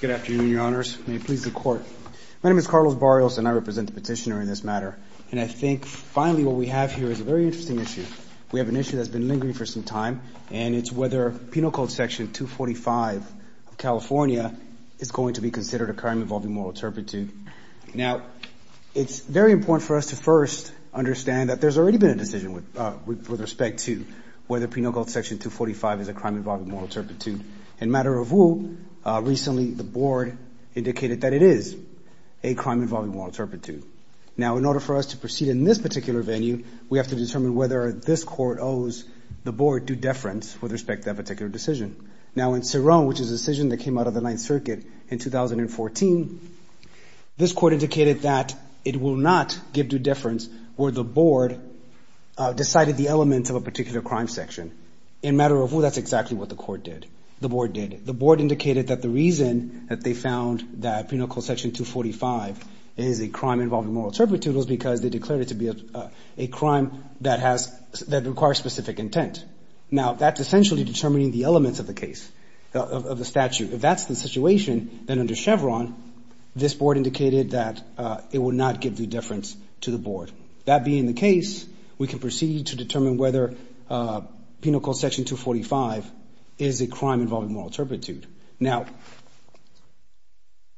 Good afternoon, your honors. May it please the court. My name is Carlos Barrios, and I represent the petitioner in this matter. And I think finally what we have here is a very interesting issue. We have an issue that's been lingering for some time, and it's whether Penal Code Section 245 of California is going to be considered a crime involving moral turpitude. Now, it's very important for us to first understand that there's already been a decision with respect to whether Penal Code Section 245 is a crime involving moral turpitude. In matter of who, recently the board indicated that it is a crime involving moral turpitude. Now, in order for us to proceed in this particular venue, we have to determine whether this court owes the board due deference with respect to that particular decision. Now, in Cerrone, which is a decision that came out of the Ninth Circuit in 2014, this court indicated that it will not give due deference where the board decided the elements of a particular crime section. In matter of who, that's exactly what the court did. The board did. The board indicated that the reason that they found that Penal Code Section 245 is a crime involving moral turpitude was because they declared it to be a crime that requires specific intent. Now, that's essentially determining the elements of the case, of the statute. If that's the situation, then under Chevron, this board indicated that it will not give due deference to the board. That being the case, we can proceed to determine whether Penal Code Section 245 is a crime involving moral turpitude. Now,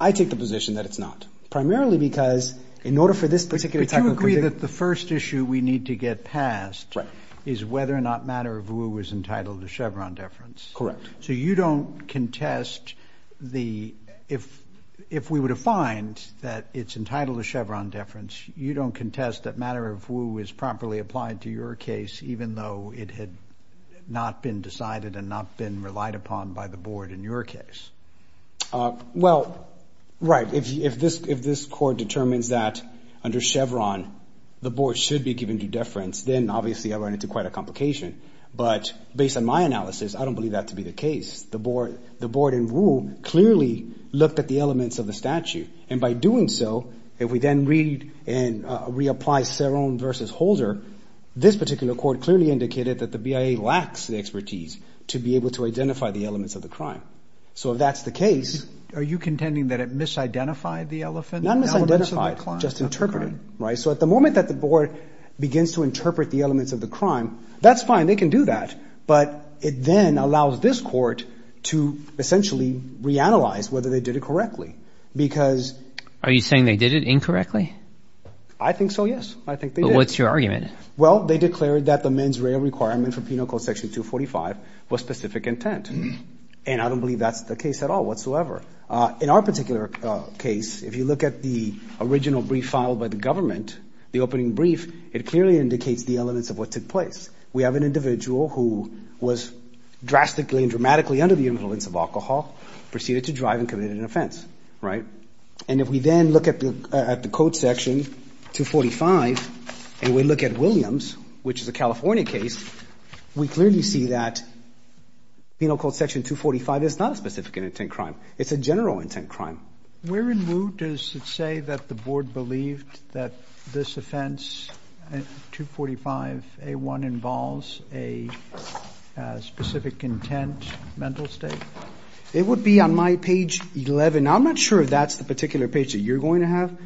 I take the position that it's not, primarily because in order for this particular type of position... But you agree that the first issue we need to get past... Right. ...is whether or not matter of who is entitled to Chevron deference. Correct. So you don't contest the... If we were to find that it's entitled to Chevron deference, you don't contest that matter of who is properly applied to your case, even though it had not been decided and not been relied upon by the board in your case. Well, right. If this court determines that under Chevron, the board should be given due deference, then obviously I run into quite a complication. But based on my analysis, I don't believe that to be the case. The board in rule clearly looked at the elements of the statute. And by doing so, if we then read and reapply Ceron v. Holder, this particular court clearly indicated that the BIA lacks the expertise to be able to identify the elements of the crime. So if that's the case... Are you contending that it misidentified the elements of the crime? ...it's not just interpreted. Right? So at the moment that the board begins to interpret the elements of the crime, that's fine. They can do that. But it then allows this court to essentially reanalyze whether they did it correctly. Because... Are you saying they did it incorrectly? I think so, yes. I think they did. But what's your argument? Well, they declared that the men's rail requirement for Penal Code Section 245 was specific intent. And I don't believe that's the case at all whatsoever. In our particular case, if you look at the original brief filed by the government, the opening brief, it clearly indicates the elements of what took place. We have an individual who was drastically and dramatically under the influence of alcohol, proceeded to drive and committed an offense. Right? And if we then look at the Code Section 245, and we look at Williams, which is a California case, we clearly see that Penal Code Section 245 is not a specific intent crime. It's a general intent crime. Where in lieu does it say that the board believed that this offense, 245A1, involves a specific intent mental state? It would be on my page 11. I'm not sure if that's the particular page that you're going to have,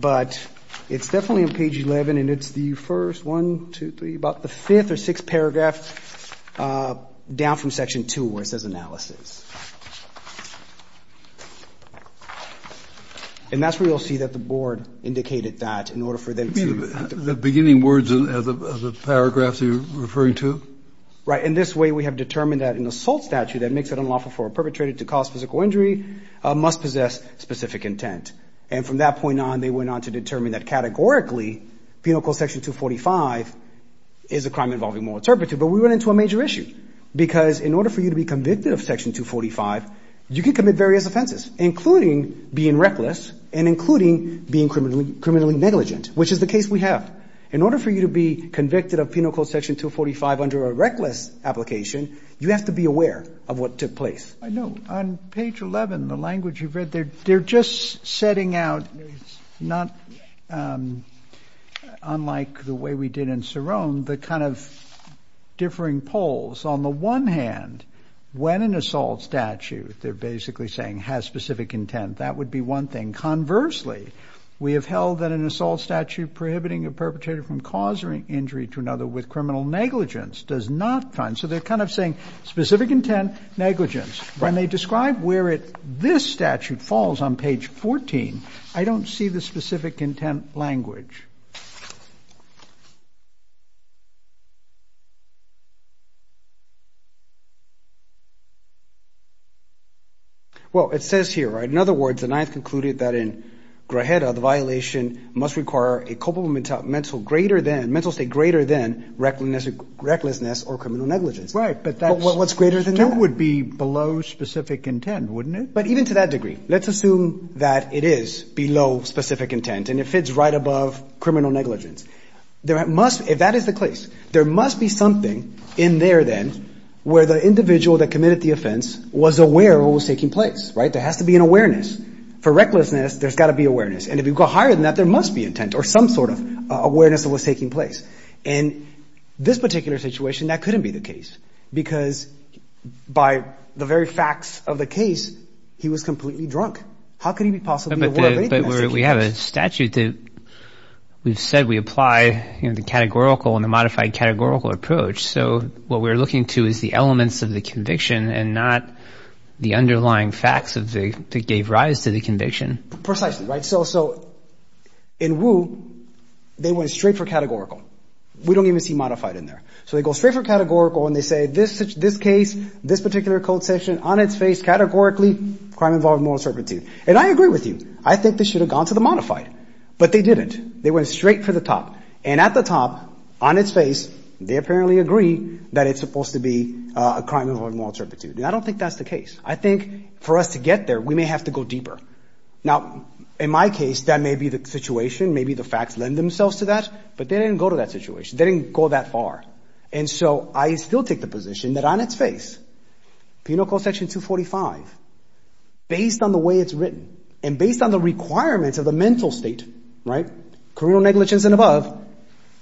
but it's definitely on page 11, and it's the first one, two, three, about the fifth or sixth paragraph down from Section 2, where it says analysis. And that's where you'll see that the board indicated that in order for them to be effective. Right. In this way, we have determined that an assault statute that makes it unlawful for a perpetrator to cause physical injury must possess specific intent. And from that point on, they went on to determine that categorically, Penal Code Section 245 is a crime involving moral turpitude. But we run into a major issue, because in order for you to be convicted of Section 245, you can commit various offenses, including being reckless and including being criminally negligent, which is the case we have. In order for you to be convicted of Penal Code Section 245 under a reckless application, you have to be aware of what took place. I know. On page 11, the language you've read, they're just setting out, not unlike the way we did in Cerrone, the kind of differing poles. On the one hand, when an assault statute, they're basically saying has specific intent. That would be one thing. Conversely, we have held that an assault statute prohibiting a perpetrator from causing injury to another with criminal negligence does not count. So they're kind of saying specific intent, negligence. When they describe where this statute falls on page 14, I don't see the specific intent language. Well, it says here, in other words, the Ninth concluded that in Grajeta, the violation must require a culpable mental greater than, recklessness or criminal negligence. Right. But what's greater than that? That would be below specific intent, wouldn't it? But even to that degree, let's assume that it is below specific intent and it fits right above criminal negligence. That is the case. There must be something in there then where the individual that committed the offense was aware of what was taking place, right? There has to be an awareness. For recklessness, there's got to be awareness. And if you go higher than that, there must be intent or some sort of awareness of what was taking place. In this particular situation, that couldn't be the case because by the very facts of the case, he was completely drunk. How could he be possibly aware of anything in that situation? But we have a statute that we've said we apply the categorical and the modified categorical approach. So what we're looking to is the elements of the conviction and not the underlying facts that gave rise to the conviction. Precisely, right? So in Wu, they went straight for categorical. We don't even see modified in there. So they go straight for categorical and they say this case, this particular code section, on its face, categorically crime involving moral turpitude. And I agree with you. I think they should have gone to the modified. But they didn't. They went straight for the top. And at the top, on its face, they apparently agree that it's supposed to be a crime involving moral turpitude. And I don't think that's the case. I think for us to get there, we may have to go deeper. Now, in my case, that may be the situation. Maybe the facts lend themselves to that. But they didn't go to that situation. They didn't go that far. And so I still take the position that on its face, penal code section 245, based on the way it's written and based on the requirements of the mental state, right, criminal negligence and above,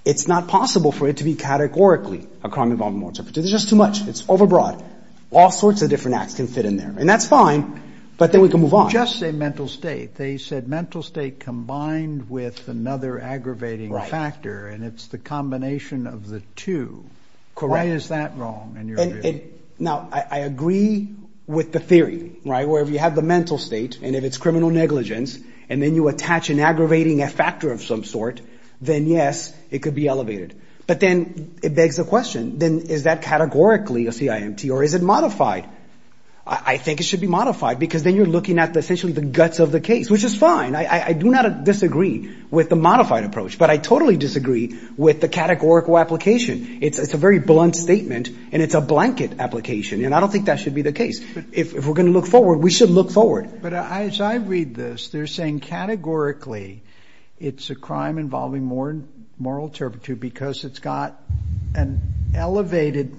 it's not possible for it to be categorically a crime involving moral turpitude. It's just too much. It's overbroad. All sorts of different acts can fit in there. And that's fine. But then we can move on. You just said mental state. They said mental state combined with another aggravating factor. And it's the combination of the two. Why is that wrong in your view? Now, I agree with the theory, right, where you have the mental state and if it's criminal negligence and then you attach an aggravating factor of some sort, then yes, it could be elevated. But then it begs the question, then is that categorically a CIMT or is it modified? I think it should be modified because then you're looking at essentially the guts of the case, which is fine. I do not disagree with the modified approach, but I totally disagree with the categorical application. It's a very blunt statement and it's a blanket application. And I don't think that should be the case. If we're going to look forward, we should look forward. But as I read this, they're saying categorically it's a crime involving moral turpitude because it's got an elevated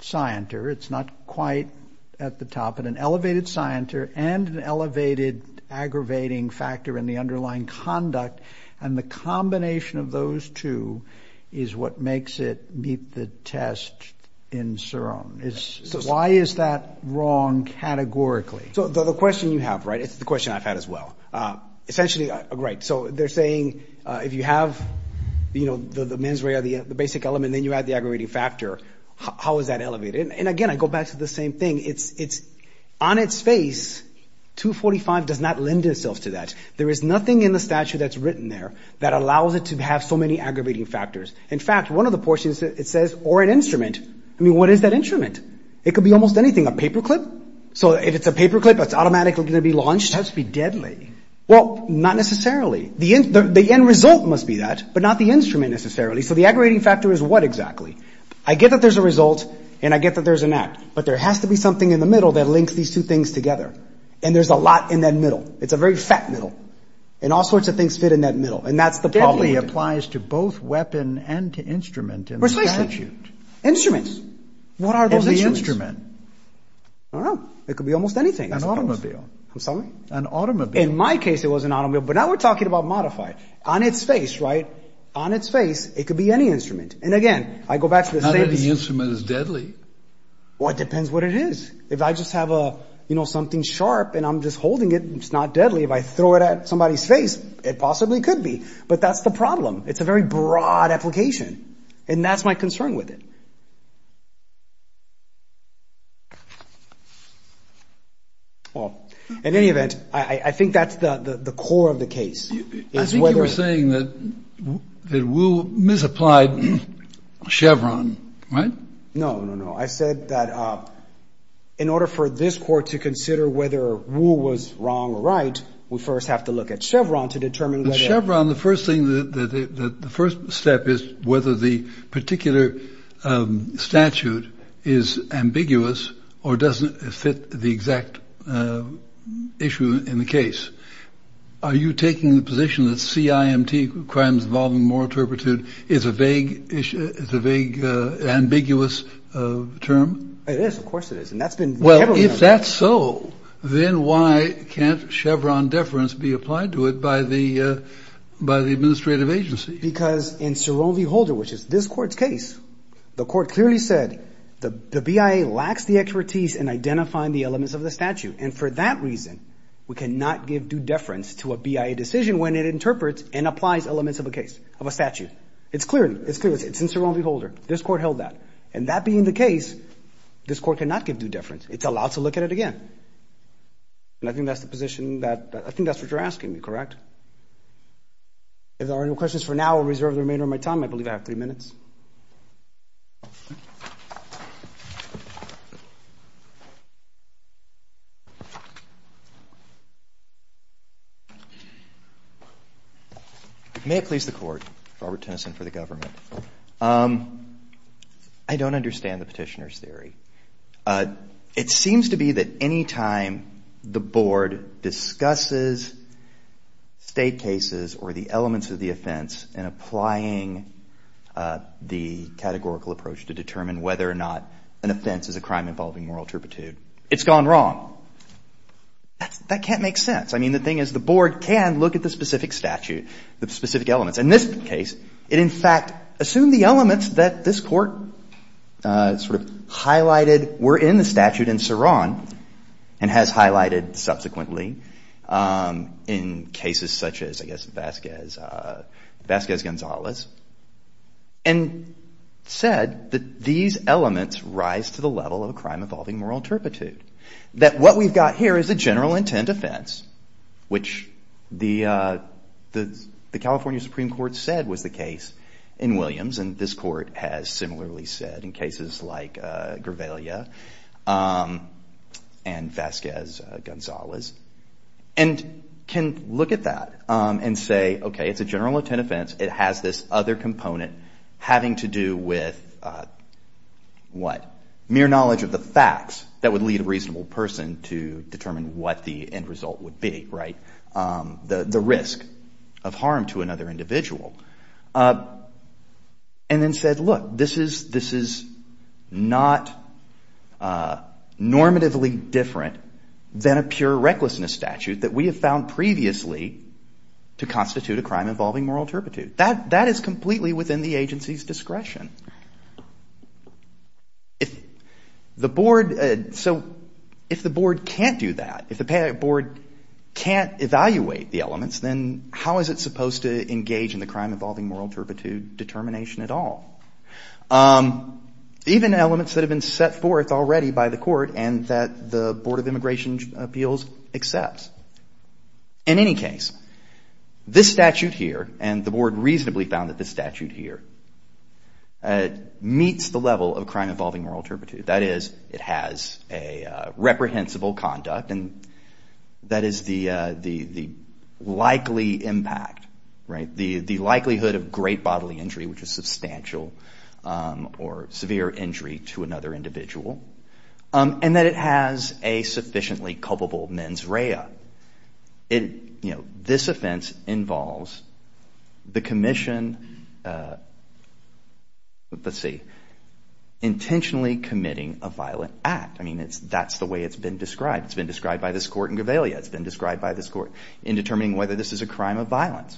scienter. It's not quite at the top, but an elevated scienter and an elevated aggravating factor in the underlying conduct. And the combination of those two is what makes it meet the test in SIROM. Why is that wrong categorically? So the question you have, right, it's the question I've had as well. Essentially, right, so they're saying if you have the mens rea or the mens re, it's the same thing. It's on its face, 245 does not lend itself to that. There is nothing in the statute that's written there that allows it to have so many aggravating factors. In fact, one of the portions, it says, or an instrument. I mean, what is that instrument? It could be almost anything, a paperclip? So if it's a paperclip, it's automatically going to be launched? It has to be deadly. Well, not necessarily. The end result must be that, but not the instrument necessarily. So the aggravating factor is what exactly? I get that there's a lot in the middle. There has to be something in the middle that links these two things together. And there's a lot in that middle. It's a very fat middle. And all sorts of things fit in that middle. And that's the problem. Deadly applies to both weapon and instrument in the statute. Precisely. Instruments. What are those instruments? It could be almost anything. An automobile. I'm sorry? An automobile. In my case, it was an automobile. But now we're talking about modified. On its face, right? On its face, it could be any instrument. And again, I go back to the fact that the instrument is deadly. Well, it depends what it is. If I just have a, you know, something sharp and I'm just holding it, it's not deadly. If I throw it at somebody's face, it possibly could be. But that's the problem. It's a very broad application. And that's my concern with it. Well, in any event, I think that's the core of the case. I think you were saying that Will misapplied Chevron. I think that's the core of the case. No, no, no. I said that in order for this court to consider whether Will was wrong or right, we first have to look at Chevron to determine whether Chevron. The first thing that the first step is whether the particular statute is ambiguous or doesn't fit the exact issue in the case. Are you saying that Chevron is a vague issue? It's a vague, ambiguous term. It is, of course it is. And that's been well, if that's so, then why can't Chevron deference be applied to it by the by the administrative agency? Because in Siroli Holder, which is this court's case, the court clearly said the BIA lacks the expertise in identifying the elements of the statute. And for that reason, we cannot give due deference to a BIA decision when it is not in Siroli Holder. It's clear. It's in Siroli Holder. This court held that. And that being the case, this court cannot give due deference. It's allowed to look at it again. And I think that's the position that I think that's what you're asking me, correct? If there are no questions for now, I'll reserve the remainder of my time. I believe I have three minutes. May it please the Court, Robert Tennyson for the government. I don't understand the Petitioner's theory. It seems to be that any time the Board discusses State cases or the elements of the offense in applying the categorical approach to determine whether or not an offense is a crime involving moral turpitude, it's gone wrong. That can't make sense. It makes sense that the Court has to look at the specific statute, the specific elements. In this case, it in fact assumed the elements that this Court sort of highlighted were in the statute in Saron, and has highlighted subsequently in cases such as I guess Vasquez, Vasquez-Gonzalez, and said that these elements rise to the level of a crime involving moral turpitude. That what we've got here is a general intent offense, which the California Supreme Court said was the case in Williams, and this Court has similarly said in cases like Gravelia and Vasquez-Gonzalez, and can look at that and say, okay, it's a general intent offense. It has this other component having to do with what? Mere knowledge of the facts that would lead a reasonable person to determine what the end result would be, right? The risk of harm to another individual. And then said, look, this is not normatively different than a pure recklessness statute that we have found previously to constitute a crime involving moral turpitude. And so, if the Court can't do that, if the board can't evaluate the elements, then how is it supposed to engage in the crime involving moral turpitude determination at all? Even elements that have been set forth already by the Court and that the Board of Immigration Appeals accepts. In any case, this statute here, and the board reasonably found that this statute here, is not a crime involving moral turpitude. It meets the level of crime involving moral turpitude. That is, it has a reprehensible conduct, and that is the likely impact, right? The likelihood of great bodily injury, which is substantial or severe injury to another individual, and that it has a sufficiently culpable mens rea. It, you know, this offense involves the commission, let's see, intentionally committing a violent act. I mean, that's the way it's been described. It's been described by this Court in Gavalia. It's been described by this Court in determining whether this is a crime of violence.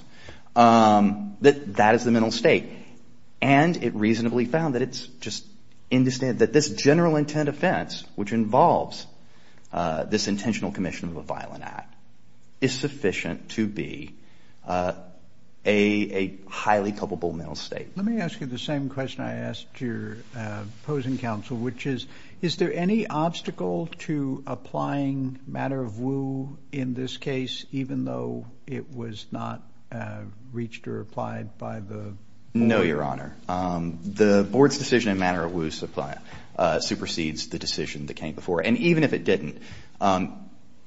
That is the mental state. And it reasonably found that it's just, that this general intent offense, which involves this intentional commission of a violent act, is sufficient to be a highly culpable mental state. Let me ask you the same question I asked your opposing counsel, which is, is there any obstacle to applying matter of woe in this case, even though it was not reached or applied by the board? No, Your Honor. The board's decision in matter of woe supersedes the decision that came before it. And even if it didn't,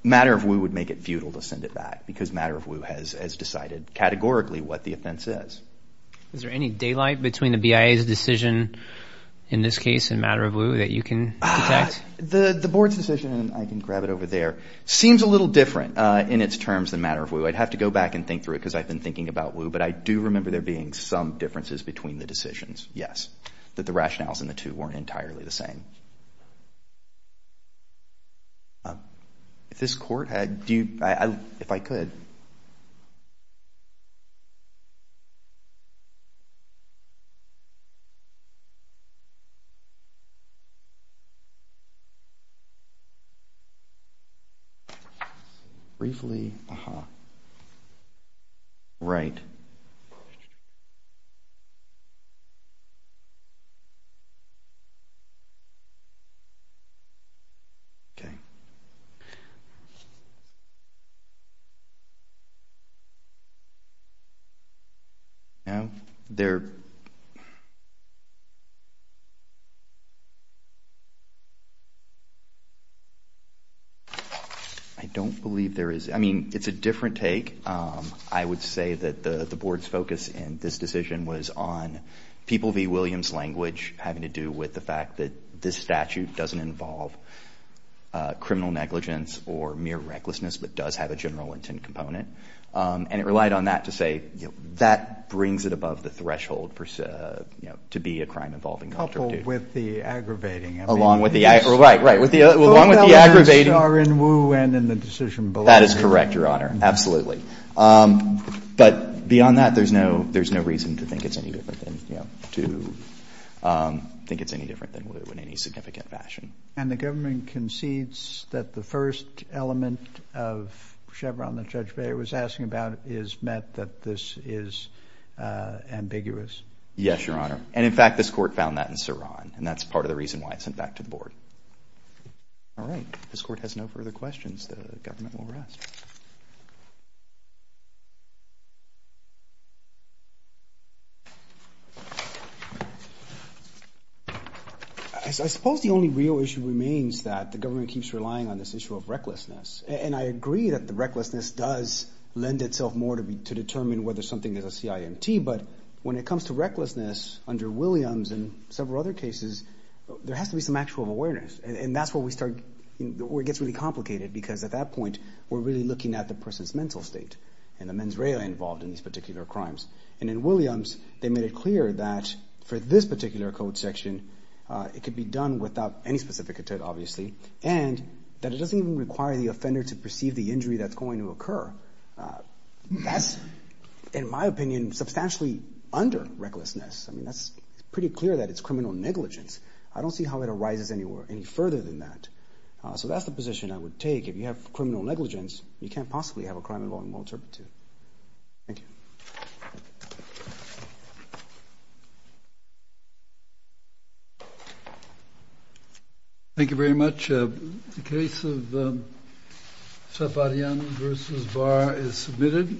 matter of woe would make it futile to send it back because matter of woe has decided categorically what the offense is. Is there any daylight between the BIA's decision in this case and matter of woe that you can detect? The board's decision, and I can grab it over there, seems a little different in its terms than matter of woe. I'd have to go back and think through it because I've been thinking about woe, but I do remember there being some differences between the decisions, yes, that the rationales in the two weren't entirely the same. If this court had, do, if I could. Briefly, uh-huh. Right. Okay. No. There. I don't believe there is. I mean, it's a different take. I would say that the board's focus in this decision was on people v. matter of woe, and it relied on the fact that this statute doesn't involve criminal negligence or mere recklessness, but does have a general intent component. And it relied on that to say, you know, that brings it above the threshold, you know, to be a crime involving matter of due. Coupled with the aggravating. Along with the aggravating. Along with the aggravating. Both of those are in woe and in the decision below. That is correct, Your Honor. Absolutely. But beyond that, there's no reason to think it's any different than, you know, to say that it's a matter of due. I don't think it's any different than woe in any significant fashion. And the government concedes that the first element of Chevron that Judge Bayer was asking about is met that this is ambiguous? Yes, Your Honor. And in fact, this court found that in Saran, and that's part of the reason why it's sent back to the board. All right. This court has no further questions. The government will rest. I suppose the only real issue remains that the government keeps relying on this issue of recklessness. And I agree that the recklessness does lend itself more to determine whether something is a CIMT. But when it comes to recklessness under Williams and several other cases, there has to be some actual awareness. And that's where we start, where it gets really complicated. Because at that point, we're really looking at the person's mental state and the mens rea involved in these particular crimes. And in Williams, they made it clear that for this particular code section, it could be done without any specific intent, obviously, and that it doesn't even require the offender to perceive the injury that's going to occur. That's, in my opinion, substantially under recklessness. I mean, that's pretty clear that it's criminal negligence. I don't see how it arises any further than that. So that's the position I would take. If you have criminal negligence, you can't possibly have a crime involved in well-interpreted. Thank you. Thank you very much. The case of Safarian v. Barr is submitted.